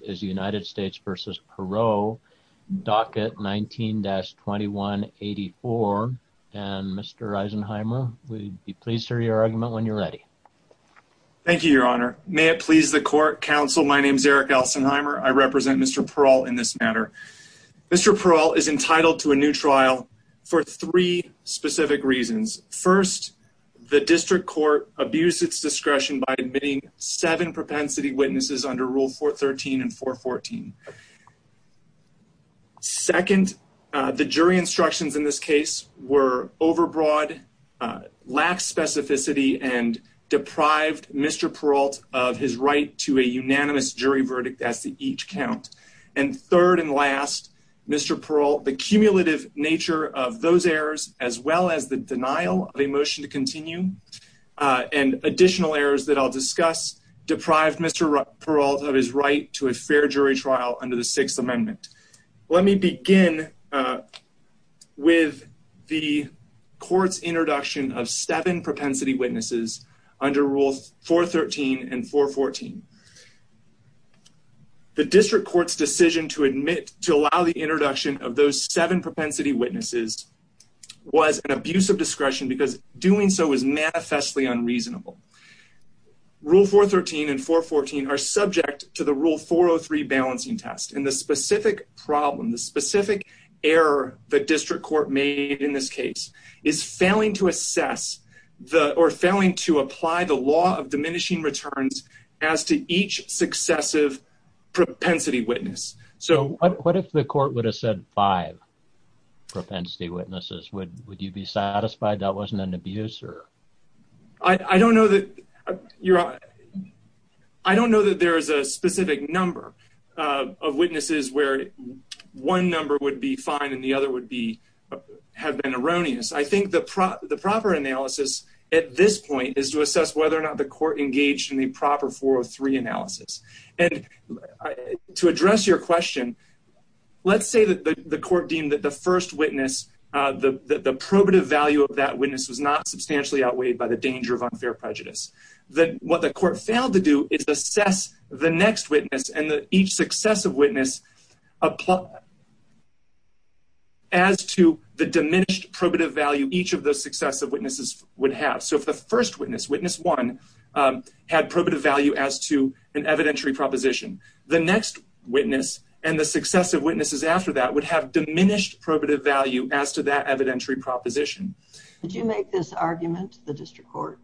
is United States v. Perrault, docket 19-2184. And Mr. Eisenheimer, we'd be pleased to hear your argument when you're ready. Thank you, your honor. May it please the court, counsel, my name is Eric Eisenheimer. I represent Mr. Perrault in this matter. Mr. Perrault is entitled to a new trial for three specific reasons. First, the district court abused its discretion by admitting seven propensity witnesses under Rule 413 and 414. Second, the jury instructions in this case were overbroad, lax specificity, and deprived Mr. Perrault of his right to a unanimous jury verdict as to each count. And third and last, Mr. Perrault, the cumulative nature of those errors, as well as the denial of a motion to continue, and additional errors that I'll discuss, deprived Mr. Perrault of his right to a fair jury trial under the Sixth Amendment. Let me begin with the court's introduction of seven propensity witnesses under Rule 413 and 414. The district court's decision to admit, to allow the introduction of those seven propensity witnesses was an abuse of discretion because doing so is manifestly unreasonable. Rule 413 and 414 are subject to the Rule 403 balancing test, and the specific problem, the specific error the district court made in this case is failing to assess or failing to apply the law of diminishing returns as to each successive propensity witness. So what if the court would have said five propensity witnesses, would you be satisfied that wasn't an abuse? I don't know that there's a specific number of witnesses where one number would be fine and the other would have been erroneous. I think the proper analysis at this point is to assess whether or not the court engaged in the proper 403 analysis. And to address your question, let's say that the court deemed that the first witness, the probative value of that witness was not substantially outweighed by the danger of unfair prejudice. Then what the court failed to do is assess the next witness and each successive witness as to the diminished probative value each of those successive witnesses would have. So if the first witness, witness one, had probative value as to an evidentiary proposition, the next witness and the successive witnesses after that would have diminished probative value as to that evidentiary proposition. Did you make this argument the district court?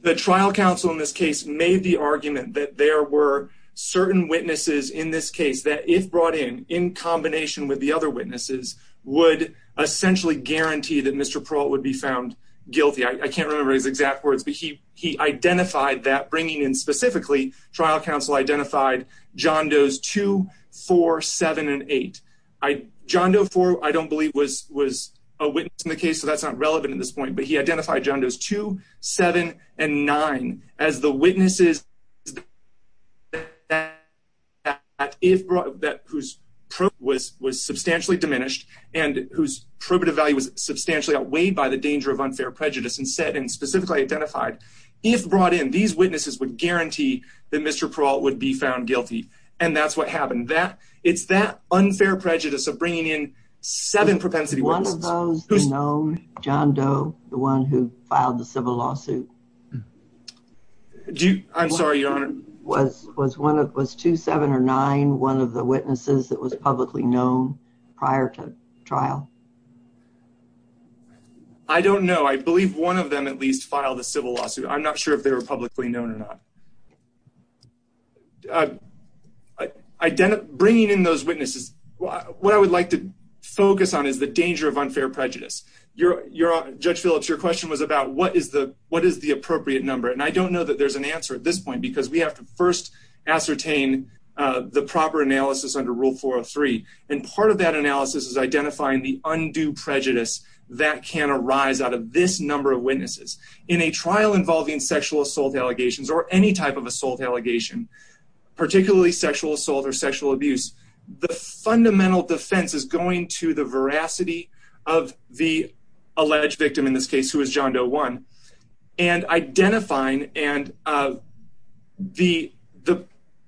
The trial counsel in this case made the argument that there were certain witnesses in this case that if brought in in combination with the other witnesses would essentially guarantee that Mr. Peralta would be found guilty. I can't remember his exact words, but he identified that bringing in specifically trial counsel identified John Doe's two, four, seven, and eight. John Doe four, I don't believe was a witness in the case, so that's not relevant at this point, but he identified John Doe's two, seven, and nine as the witnesses that whose probative was substantially diminished and whose probative value was substantially outweighed by the danger of unfair prejudice and said and specifically identified if brought in, these witnesses would guarantee that Mr. Peralta would be found guilty. And that's what happened. It's that unfair prejudice of bringing in seven propensity witnesses. Was one of those known, John Doe, the one who filed the civil lawsuit? I'm sorry, Your Honor. Was two, seven, or nine one of the witnesses that was publicly known prior to trial? I don't know. I believe one of them at least filed a civil lawsuit. I'm not sure if they were publicly known or not. Bringing in those witnesses, what I would like to focus on is the danger of unfair prejudice. Judge Phillips, your question was about what is the appropriate number, and I don't know that there's an answer at this point because we have to first ascertain the proper analysis under Rule 403, and part of that analysis is identifying the undue prejudice that can arise out of this number of witnesses. In a trial involving sexual assault allegations or any type of assault allegation, particularly sexual assault or sexual abuse, the fundamental defense is going to the veracity of the alleged victim in this case, who is John Doe one, and identifying and the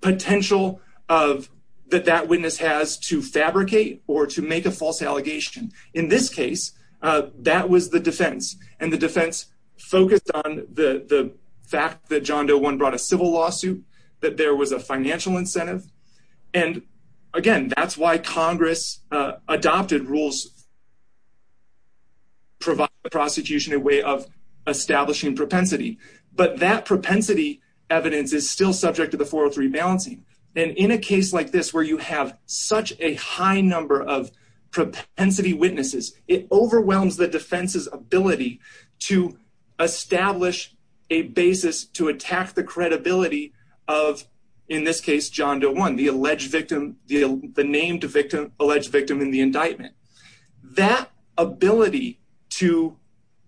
potential that that witness has to fabricate or to make a false allegation. In this case, that was the defense, and the defense focused on the fact that John Doe one brought a civil lawsuit, that there was a financial incentive, and again, that's why Congress adopted rules that provide the prosecution a way of establishing propensity, but that propensity evidence is still subject to the 403 balancing, and in a case like this where you have such a high number of propensity witnesses, it overwhelms the defense's ability to establish a basis to attack the credibility of, in this case, John Doe one, the alleged victim, the named victim, alleged victim in the indictment. That ability to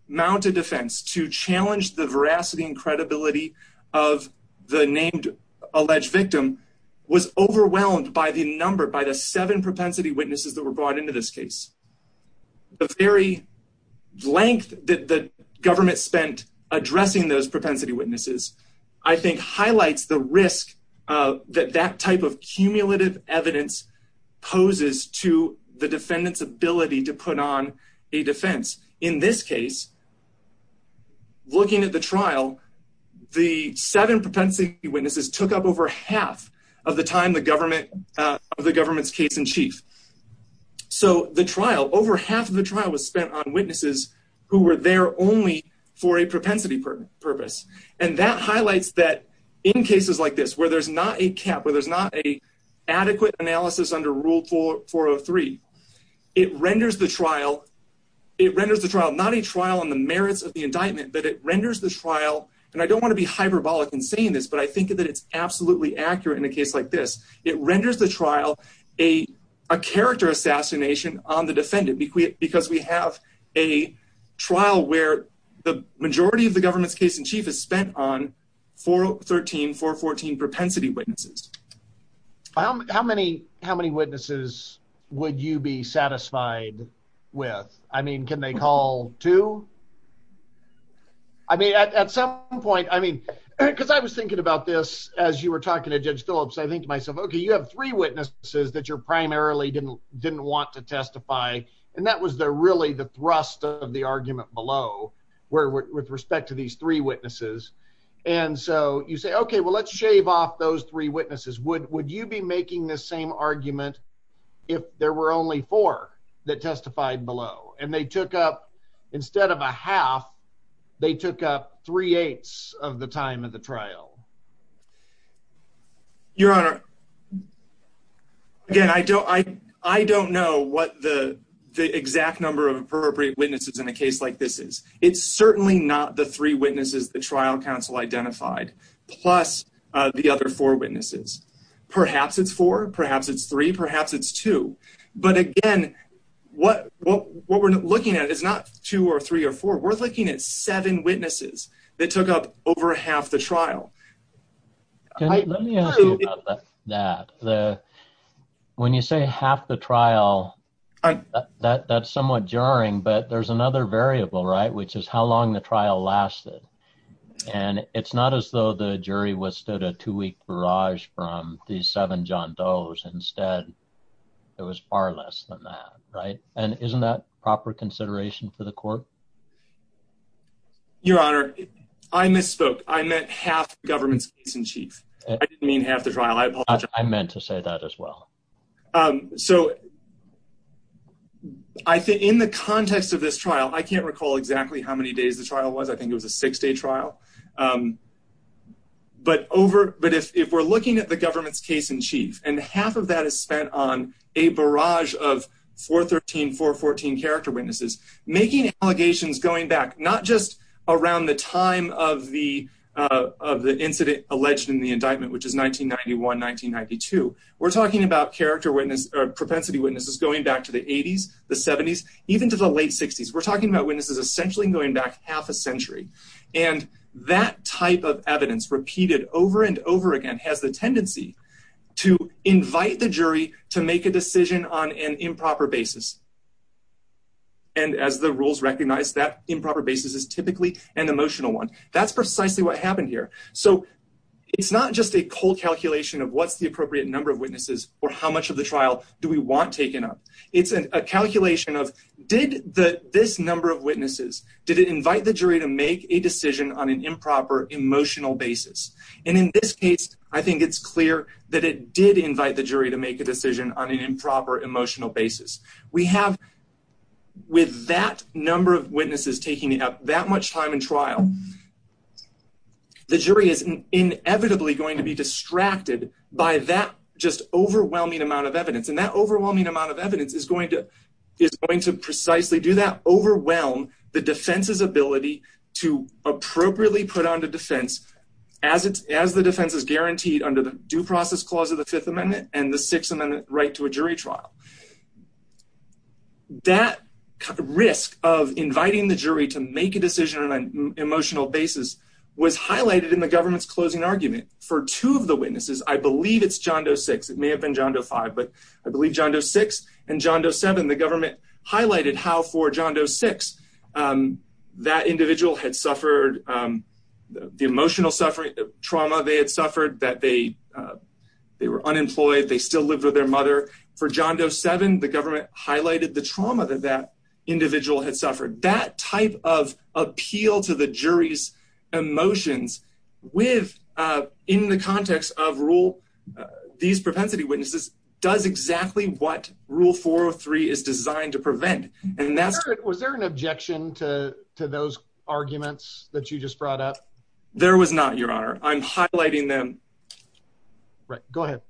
mount a defense, to challenge the veracity and credibility of the named alleged victim, was overwhelmed by the number, by the seven propensity witnesses that were brought into this case. The very length that the government spent addressing those propensity witnesses, I think, highlights the risk that that type of cumulative evidence poses to the defendant's ability to put on a defense. In this case, looking at the trial, the seven propensity witnesses took up over half of the time the government, of the government's case in chief. So the trial, over half of the trial was spent on witnesses who were there only for a propensity purpose, and that highlights that in cases like this, where there's not a cap, where there's not a adequate analysis under Rule 403, it renders the trial, it renders the trial, not a trial on the merits of the indictment, but it renders the trial, and I don't want to be hyperbolic in saying this, but I think that it's absolutely accurate in a case like this. It renders the trial a character assassination on the defendant, because we have a trial where the majority of the government's case in chief is spent on 413, 414 propensity witnesses. How many, how many witnesses would you be satisfied with? I mean, can they call two? I mean, at some point, I mean, because I was thinking about this as you were talking to Judge Phillips, I think to myself, okay, you have three witnesses that you're primarily didn't, didn't want to testify, and that was the, really the thrust of the argument below, where, with respect to these three witnesses, and so you say, okay, well, let's shave off those three witnesses. Would, would you be making this same argument if there were only four that testified below, and they took up, instead of a half, they took up three-eighths of the time of the trial? Your Honor, again, I don't, I, I don't know what the, the exact number of appropriate witnesses in a case like this is. It's certainly not the three witnesses the trial counsel identified, plus, uh, the other four witnesses. Perhaps it's four, perhaps it's three, perhaps it's two, but again, what, what, what we're looking at is not two or three or four, we're looking at seven that took up over half the trial. Let me ask you about that. The, when you say half the trial, that, that's somewhat jarring, but there's another variable, right, which is how long the trial lasted, and it's not as though the jury withstood a two-week barrage from these seven John Doe's. Instead, it was far less than that, right, and isn't that proper consideration for the court? Your Honor, I misspoke. I meant half the government's case in chief. I didn't mean half the trial. I apologize. I meant to say that as well. Um, so I think in the context of this trial, I can't recall exactly how many days the trial was. I think it was a six-day trial. Um, but over, but if, if we're looking at the government's case in chief and half of that is spent on a barrage of 413, 414 character witnesses, making allegations going back, not just around the time of the, uh, of the incident alleged in the indictment, which is 1991, 1992. We're talking about character witness, uh, propensity witnesses going back to the 80s, the 70s, even to the late 60s. We're talking about witnesses essentially going back half a century, and that type of evidence repeated over and over again has the tendency to invite the jury to make a decision on an improper basis. And as the rules recognize that improper basis is typically an emotional one. That's precisely what happened here. So it's not just a cold calculation of what's the appropriate number of witnesses or how much of the trial do we want taken up? It's a calculation of did the, this number of witnesses, did it invite the jury to make a decision on an improper emotional basis? And in this case, I think it's clear that it did invite the jury to make a decision on an improper emotional basis. We have with that number of witnesses taking up that much time in trial, the jury is inevitably going to be distracted by that just overwhelming amount of evidence. And that overwhelming amount of evidence is going to, is going to precisely do that overwhelm the defense's ability to appropriately put on the defense as the defense is guaranteed under the due process clause of the fifth amendment and the sixth amendment right to a jury trial. That risk of inviting the jury to make a decision on an emotional basis was highlighted in the government's closing argument for two of the witnesses. I believe it's John Doe six, it may have been John Doe five, but I believe John Doe six and John Doe seven, the government highlighted how for John Doe six, um, that individual had suffered, um, the emotional suffering trauma they had suffered that they, uh, they were unemployed. They still lived with their mother for John Doe seven, the government highlighted the trauma that that individual had suffered that type of appeal to the jury's emotions with, uh, in the context of rule, these propensity witnesses does exactly what rule four or three is designed to prevent. And that's, was there an objection to, to those arguments that you just brought up? There was not your honor. I'm highlighting them, right? Go ahead.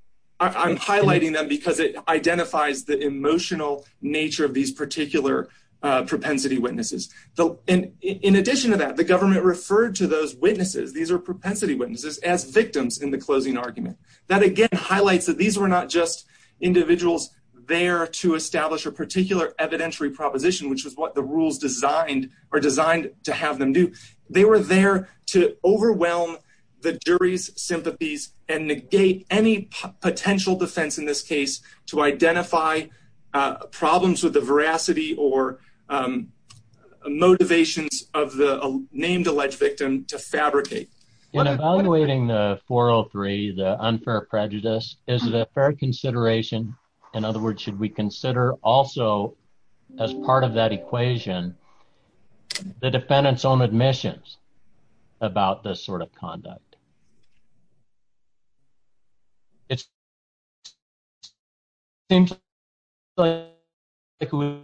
I'm highlighting them because it identifies the emotional nature of these particular, uh, propensity witnesses. So, and in addition to that, the government referred to those witnesses. These are propensity witnesses as victims in the closing argument that again, highlights that these were not just individuals there to establish a particular evidentiary proposition, which was what the rules designed are designed to have them do. They were there to overwhelm the jury's sympathies and negate any potential defense in this case to identify problems with the veracity or, um, motivations of the named alleged victim to fabricate. In evaluating the 403, the unfair prejudice, is it a fair consideration? In other words, should we consider also as part of that equation, the defendant's own admissions about this sort of conduct? It seems like it would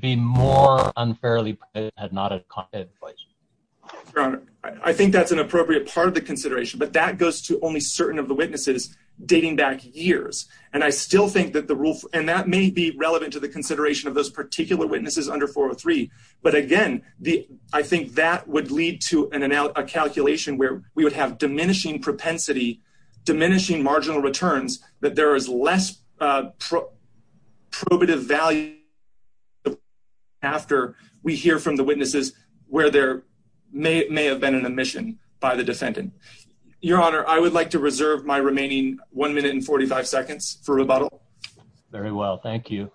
be more unfairly at not a competent place. I think that's an appropriate part of the consideration, but that goes to only certain of the witnesses dating back years. And I still think that the rule, and that may be relevant to the consideration of those particular witnesses under 403. But again, the, I think that would lead to a calculation where we would have diminishing propensity, diminishing marginal returns, that there is less probative value after we hear from the witnesses where there may have been an admission by the defendant. Your honor, I would like to reserve my remaining one minute and 45 seconds for rebuttal. Very well. Thank you.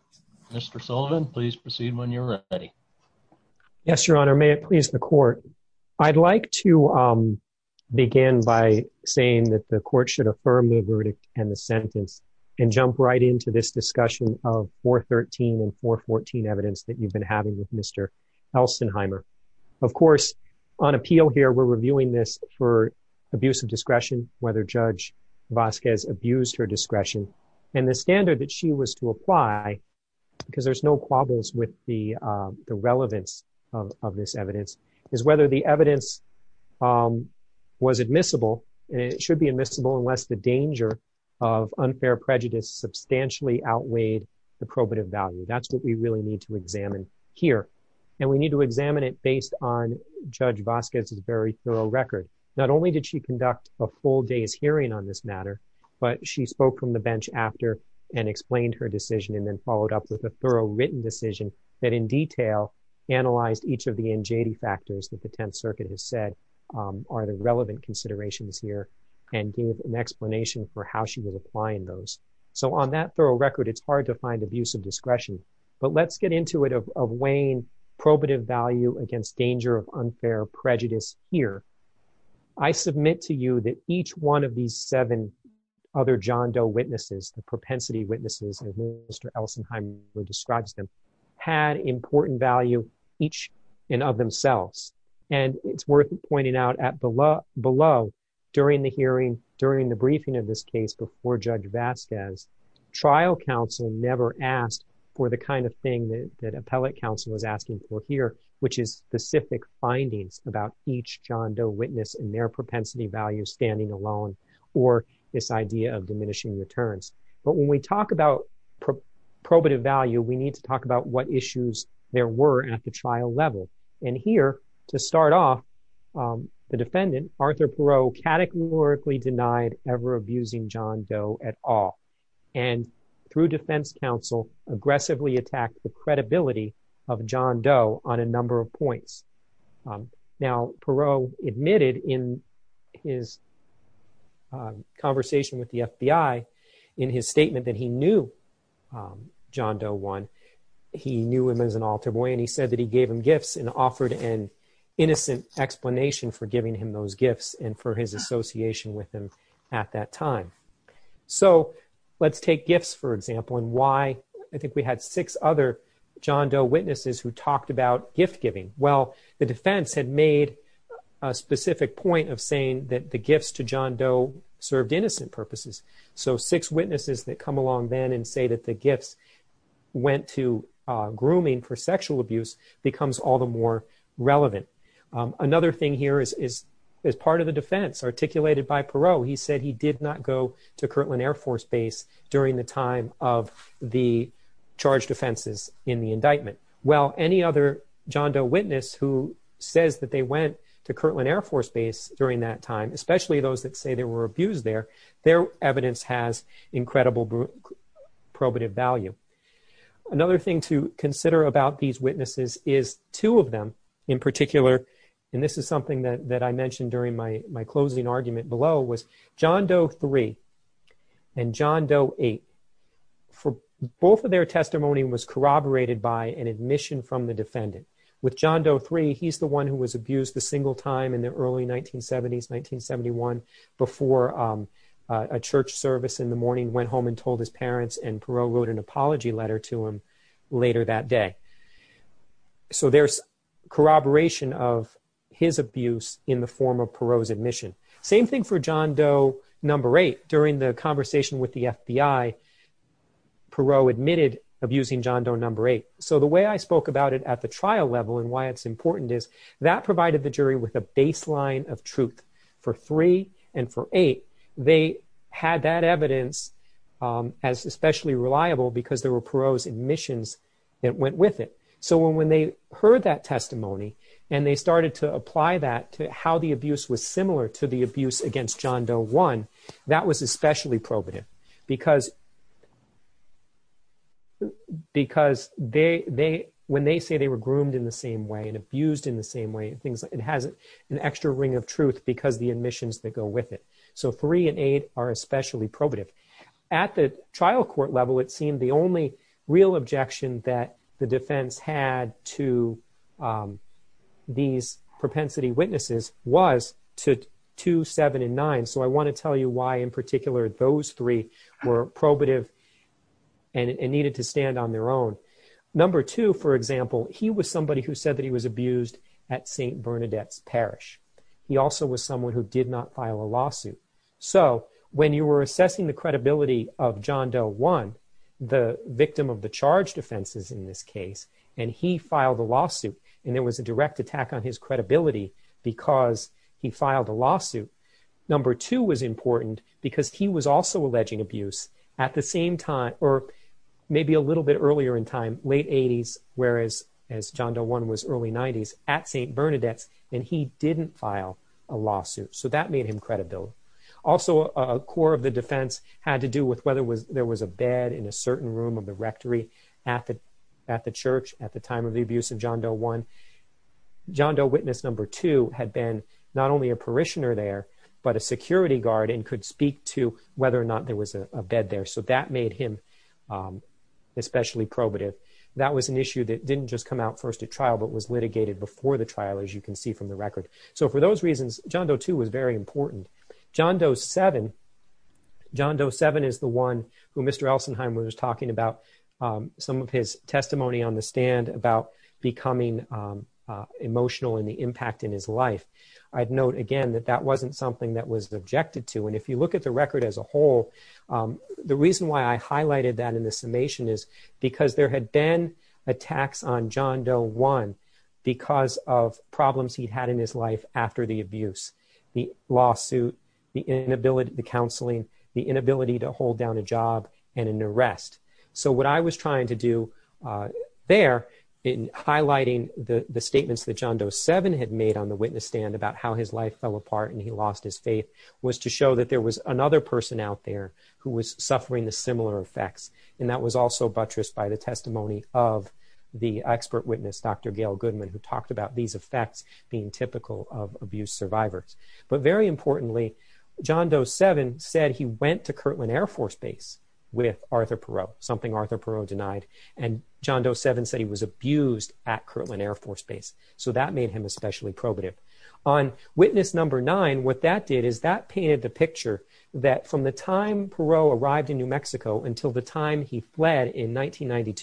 Mr. Sullivan, please proceed when you're ready. Yes, your honor. May it please the court. I'd like to, um, begin by saying that the court should affirm the verdict and the sentence and jump right into this discussion of 413 and 414 evidence that you've been having with Mr. Elsenheimer. Of course, on appeal here, we're reviewing this for abuse of discretion, whether Judge Vasquez abused her because there's no quabbles with the relevance of this evidence is whether the evidence was admissible. And it should be admissible unless the danger of unfair prejudice substantially outweighed the probative value. That's what we really need to examine here. And we need to examine it based on Judge Vasquez's very thorough record. Not only did she conduct a full day's and explained her decision and then followed up with a thorough written decision that in detail analyzed each of the NJD factors that the Tenth Circuit has said are the relevant considerations here and gave an explanation for how she was applying those. So on that thorough record, it's hard to find abuse of discretion, but let's get into it of weighing probative value against danger of unfair prejudice here. I submit to you that each one of these seven other John Doe witnesses, the propensity witnesses, as Mr. Elsenheimer describes them, had important value each and of themselves. And it's worth pointing out at below, during the hearing, during the briefing of this case before Judge Vasquez, trial counsel never asked for the kind of thing that appellate counsel was asking for here, which is specific findings about each John Doe witness and their propensity value standing alone, or this idea of diminishing returns. But when we talk about probative value, we need to talk about what issues there were at the trial level. And here to start off, the defendant, Arthur Perot, categorically denied ever abusing John Doe at all and through defense counsel, aggressively attacked the credibility of John Doe on a number of points. Now, Perot admitted in his conversation with the FBI, in his statement that he knew John Doe one, he knew him as an altar boy and he said that he gave him gifts and offered an innocent explanation for giving him those gifts and for his association with him at that time. So, let's take gifts, for example, and why I think we had six other John Doe witnesses who talked about gift giving. Well, the defense had made a specific point of saying that the gifts to John Doe served innocent purposes. So, six witnesses that come along then and say that the gifts went to grooming for sexual abuse becomes all the more relevant. Another thing here is as part of the defense articulated by Perot, he said he did not go to Kirtland Air Force Base during the time of the charged offenses in the indictment. Well, any other John Doe witness who says that they went to Kirtland Air Force Base during that time, especially those that say they were abused there, their evidence has incredible probative value. Another thing to consider about these witnesses is two of them in particular, and this is something that I mentioned during my closing argument below, was John Doe 3 and John Doe 8. Both of their testimony was corroborated by an admission from the defendant. With John Doe 3, he's the one who was abused the single time in the early 1970s, 1971, before a church service in the morning went home and told his parents and Perot wrote an apology letter to him later that day. So, there's corroboration of his abuse in the form of same thing for John Doe number 8. During the conversation with the FBI, Perot admitted abusing John Doe number 8. So, the way I spoke about it at the trial level and why it's important is that provided the jury with a baseline of truth for 3 and for 8. They had that evidence as especially reliable because there were Perot's admissions that went with it. So, when they heard that testimony and they started to apply that to how the abuse was similar to the abuse against John Doe 1, that was especially probative because when they say they were groomed in the same way and abused in the same way, it has an extra ring of truth because the admissions that go with it. So, 3 and 8 are especially probative. At the trial court level, it seemed the only real objection that the defense had to these propensity witnesses was to 2, 7, and 9. So, I want to tell you why, in particular, those 3 were probative and needed to stand on their own. Number 2, for example, he was somebody who said that he was abused at St. Bernadette's Parish. He also was someone who did not file a lawsuit. So, when you were assessing the credibility of John Doe 1, the victim of the charged offenses in this case, and he filed a lawsuit, and there was a direct attack on his credibility because he filed a lawsuit. Number 2 was important because he was also alleging abuse at the same time, or maybe a little bit earlier in time, late 80s, whereas as John Doe 1 was early 90s, at St. Bernadette's, and he didn't file a lawsuit. So, that made him credible. Also, a core of the defense had to do with whether there was a bed in a certain room of the rectory at the church at the time of the abuse of John Doe 1. John Doe witness number 2 had been not only a parishioner there, but a security guard and could speak to whether or not there was a bed there. So, that made him especially probative. That was an issue that didn't just come out first at trial, but was litigated before the trial, as you can see from the record. So, for those reasons, John Doe 2 was very important. John Doe 7 is the one who Mr. Elsenheim was talking about some of his testimony on the stand about becoming emotional and the impact in his life. I'd note again that that wasn't something that was objected to. And if you look at the record as a whole, the reason why I highlighted that in the summation is because there had been attacks on John Doe 1 because of problems he'd had in his life after the abuse. The lawsuit, the inability, the counseling, the inability to hold down a job, and an arrest. So, what I was trying to do there in highlighting the statements that John Doe 7 had made on the witness stand about how his life fell apart and he lost his faith was to show that there was another person out there who was suffering the similar effects. And that was also buttressed by the testimony of the expert witness, Dr. Gail Goodman, who talked about these survivors. But very importantly, John Doe 7 said he went to Kirtland Air Force Base with Arthur Perot, something Arthur Perot denied. And John Doe 7 said he was abused at Kirtland Air Force Base. So, that made him especially probative. On witness number 9, what that did is that painted the picture that from the time Perot arrived in New Mexico until the time he fled in 1992,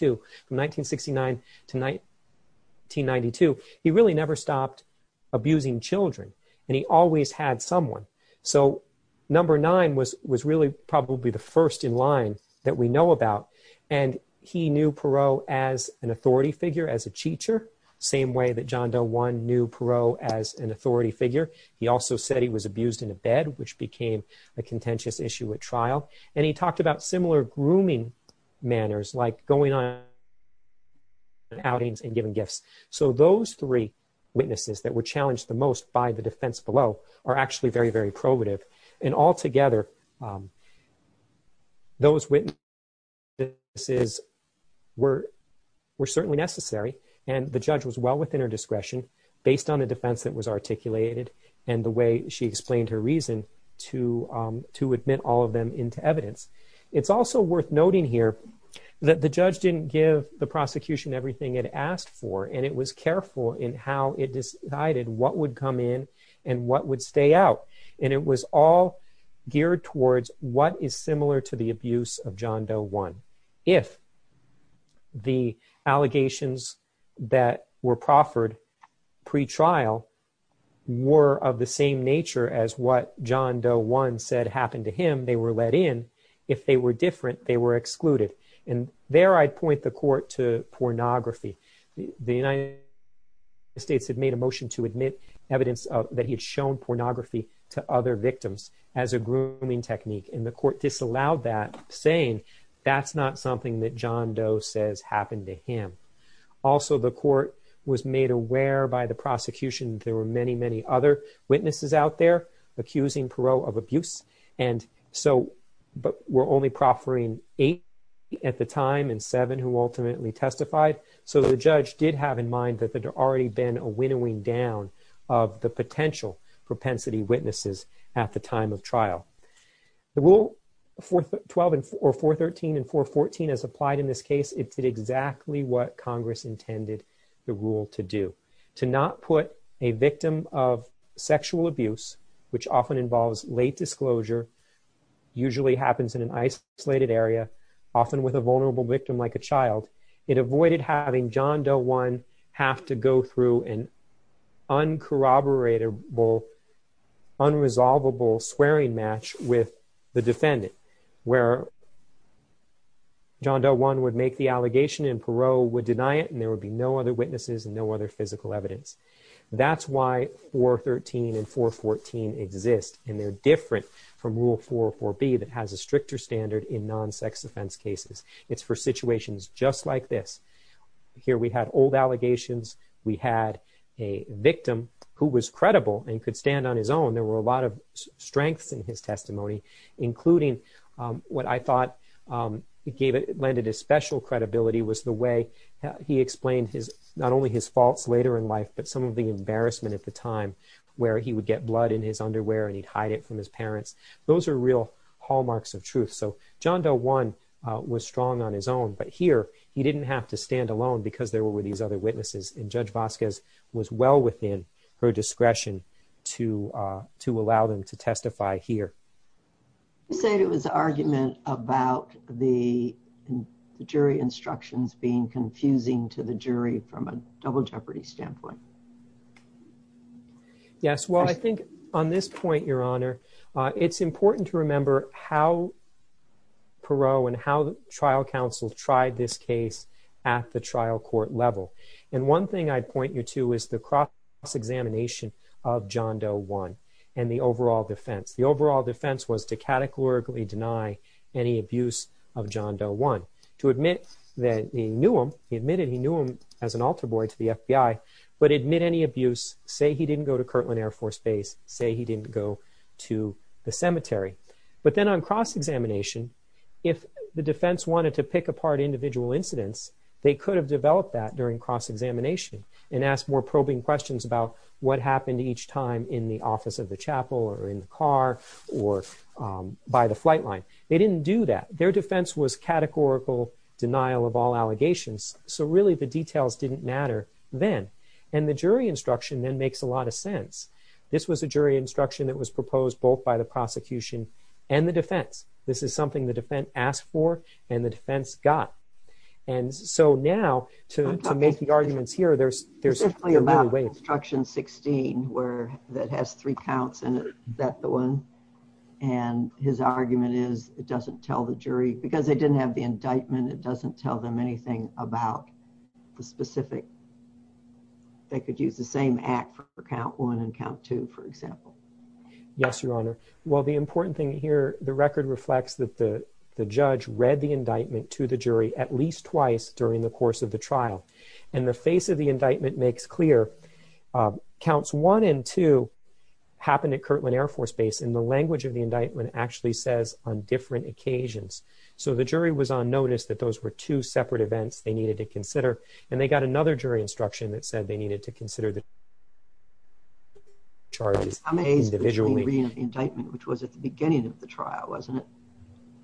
from 1969 to 1992, he really never stopped abusing children. And he always had someone. So, number 9 was really probably the first in line that we know about. And he knew Perot as an authority figure, as a teacher, same way that John Doe 1 knew Perot as an authority figure. He also said he was abused in a bed, which became a contentious issue at trial. And he talked about grooming manners, like going on outings and giving gifts. So, those three witnesses that were challenged the most by the defense below are actually very, very probative. And altogether, those witnesses were certainly necessary. And the judge was well within her discretion, based on the defense that was articulated and the way she explained her reason to admit all of them into evidence. It's also worth noting here that the judge didn't give the prosecution everything it asked for. And it was careful in how it decided what would come in and what would stay out. And it was all geared towards what is similar to the abuse of John Doe 1. If the allegations that were proffered pre-trial were of the same nature as what John Doe 1 said happened to him, they were let in. If they were different, they were excluded. And there I'd point the court to pornography. The United States had made a motion to admit evidence that he had shown pornography to other victims as a grooming technique. And the court disallowed that, saying that's not something that John Doe says happened to him. Also, the court was made aware by the prosecution there were many, many other witnesses out there accusing Perot of abuse. But we're only proffering eight at the time and seven who ultimately testified. So the judge did have in mind that there had already been a winnowing down of the potential propensity witnesses at the time of trial. The rule 413 and 414 as applied in this case, it did exactly what Congress intended the rule to do. To not put a victim of sexual abuse, which often involves late disclosure, usually happens in an isolated area, often with a vulnerable victim like a child, it avoided having John Doe 1 have to go through an uncorroboratable, unresolvable swearing match with the defendant, where John Doe 1 would make the allegation and witnesses and no other physical evidence. That's why 413 and 414 exist. And they're different from rule 404B that has a stricter standard in non-sex offense cases. It's for situations just like this. Here we had old allegations. We had a victim who was credible and could stand on his own. There were a lot of strengths in his testimony, including what I thought landed his special credibility was the way he explained not only his faults later in life, but some of the embarrassment at the time where he would get blood in his underwear and he'd hide it from his parents. Those are real hallmarks of truth. So John Doe 1 was strong on his own, but here he didn't have to stand alone because there were these other witnesses. And Judge Vasquez was well within her discretion to allow them to testify here. You said it was an argument about the jury instructions being confusing to the jury from a double jeopardy standpoint. Yes. Well, I think on this point, Your Honor, it's important to remember how Perot and how the trial counsel tried this case at the trial court level. And one thing I'd point you to is the cross-examination of John Doe 1 and the overall defense. The overall defense was to categorically deny any abuse of John Doe 1. To admit that he knew him, he admitted he knew him as an altar boy to the FBI, but admit any abuse, say he didn't go to Kirtland Air Force Base, say he didn't go to the cemetery. But then on cross-examination, if the defense wanted to pick apart individual incidents, they could have developed that during cross-examination and asked more probing questions about what happened each time in the office of the chapel or in the car or by the flight line. They didn't do that. Their defense was categorical denial of all allegations, so really the details didn't matter then. And the jury instruction then makes a lot of sense. This was a jury instruction that was proposed both by the prosecution and the defense. This is something the defense asked for and the defense got. And so now to make the arguments here, there's definitely a way. It's about instruction 16 that has three counts in it, that the one, and his argument is it doesn't tell the jury because they didn't have the indictment. It doesn't tell them anything about the specific. They could use the same act for count one and count two, for example. Yes, your honor. Well, the important thing here, the record reflects that the judge read the indictment to the jury at least twice during the course of the trial. And the face of the indictment makes clear counts one and two happened at Kirtland Air Force Base, and the language of the indictment actually says on different occasions. So the jury was on notice that those were two separate events they needed to consider, and they got another jury instruction that said they needed to consider the charges individually. How many days between reading the indictment, which was at the beginning of the trial, wasn't it?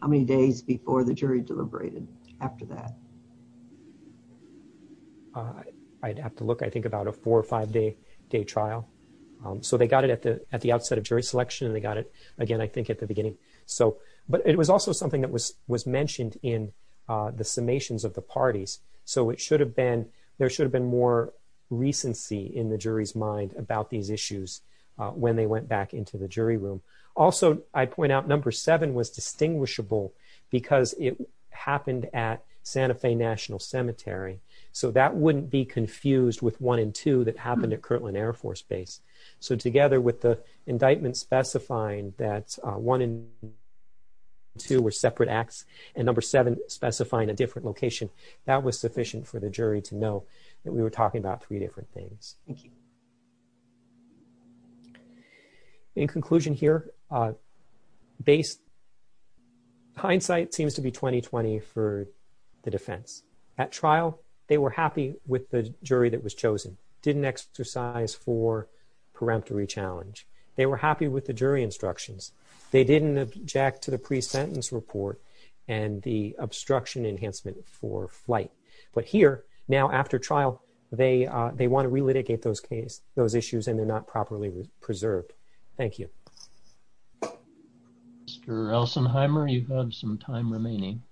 How many days before the jury deliberated after that? I'd have to look. I think about a four or five day trial. So they got it at the outset of jury selection, and they got it again, I think, at the beginning. But it was also something that was mentioned in the summations of the parties. So it should have been, there should have been more recency in the jury's mind about these issues when they went back into the jury room. Also, I point out number seven was distinguishable because it happened at Santa Fe National Cemetery. So that wouldn't be confused with one and two that happened at Kirtland Air Force Base. So together with the indictment specifying that one and two were separate acts, and number seven specifying a different location, that was sufficient for the jury to know that we were talking about three different things. Thank you. In conclusion here, hindsight seems to be 20-20 for the defense. At trial, they were happy with the jury that was chosen, didn't exercise for peremptory challenge. They were happy with the jury instructions. They didn't object to the pre-sentence report and the obstruction enhancement for flight. But here, now after trial, they want to relitigate those issues and they're not properly preserved. Thank you. Mr. Elsenheimer, you have some time remaining.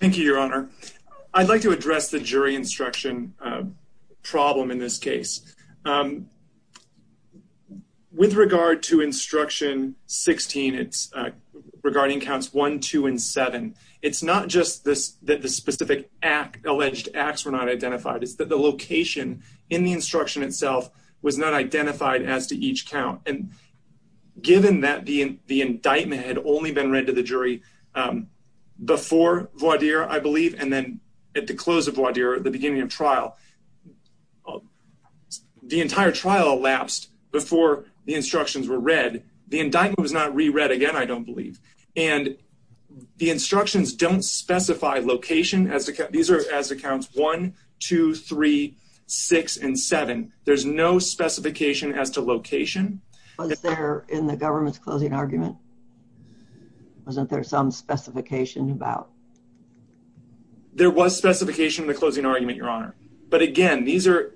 Thank you, Your Honor. I'd like to address the jury instruction problem in this case. With regard to instruction 16, it's regarding counts one, two, and seven, it's not just this that the specific act, alleged acts were not identified. It's that the location in the instruction is not identified as to each count. Given that the indictment had only been read to the jury before voir dire, I believe, and then at the close of voir dire, at the beginning of trial, the entire trial elapsed before the instructions were read. The indictment was not re-read again, I don't believe. The instructions don't specify location. These are as accounts one, two, three, six, and seven. There's no specification as to location. Was there in the government's closing argument? Wasn't there some specification about? There was specification in the closing argument, Your Honor. But again, the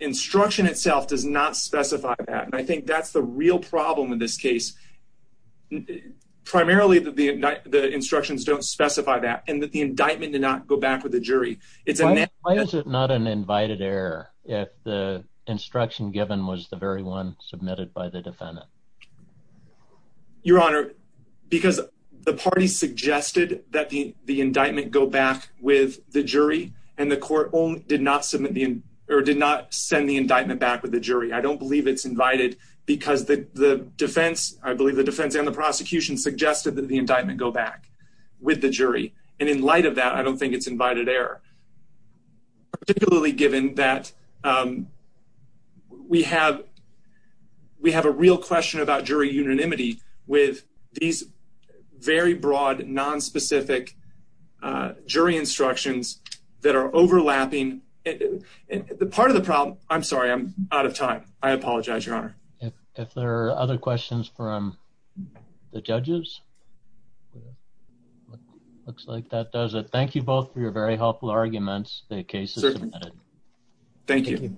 instruction itself does not specify that. And I think that's the real problem in this case. Primarily, the instructions don't Why is it not an invited error if the instruction given was the very one submitted by the defendant? Your Honor, because the party suggested that the indictment go back with the jury, and the court did not send the indictment back with the jury. I don't believe it's invited because the defense, I believe the defense and the prosecution, suggested that the indictment go back with the jury. And in light of that, I don't think it's invited error, particularly given that we have a real question about jury unanimity with these very broad, nonspecific jury instructions that are overlapping. Part of the problem, I'm sorry, I'm out of time. I apologize, Your Honor. If there are other questions from the judges? Looks like that does it. Thank you both for your very helpful arguments. The case is submitted. Thank you.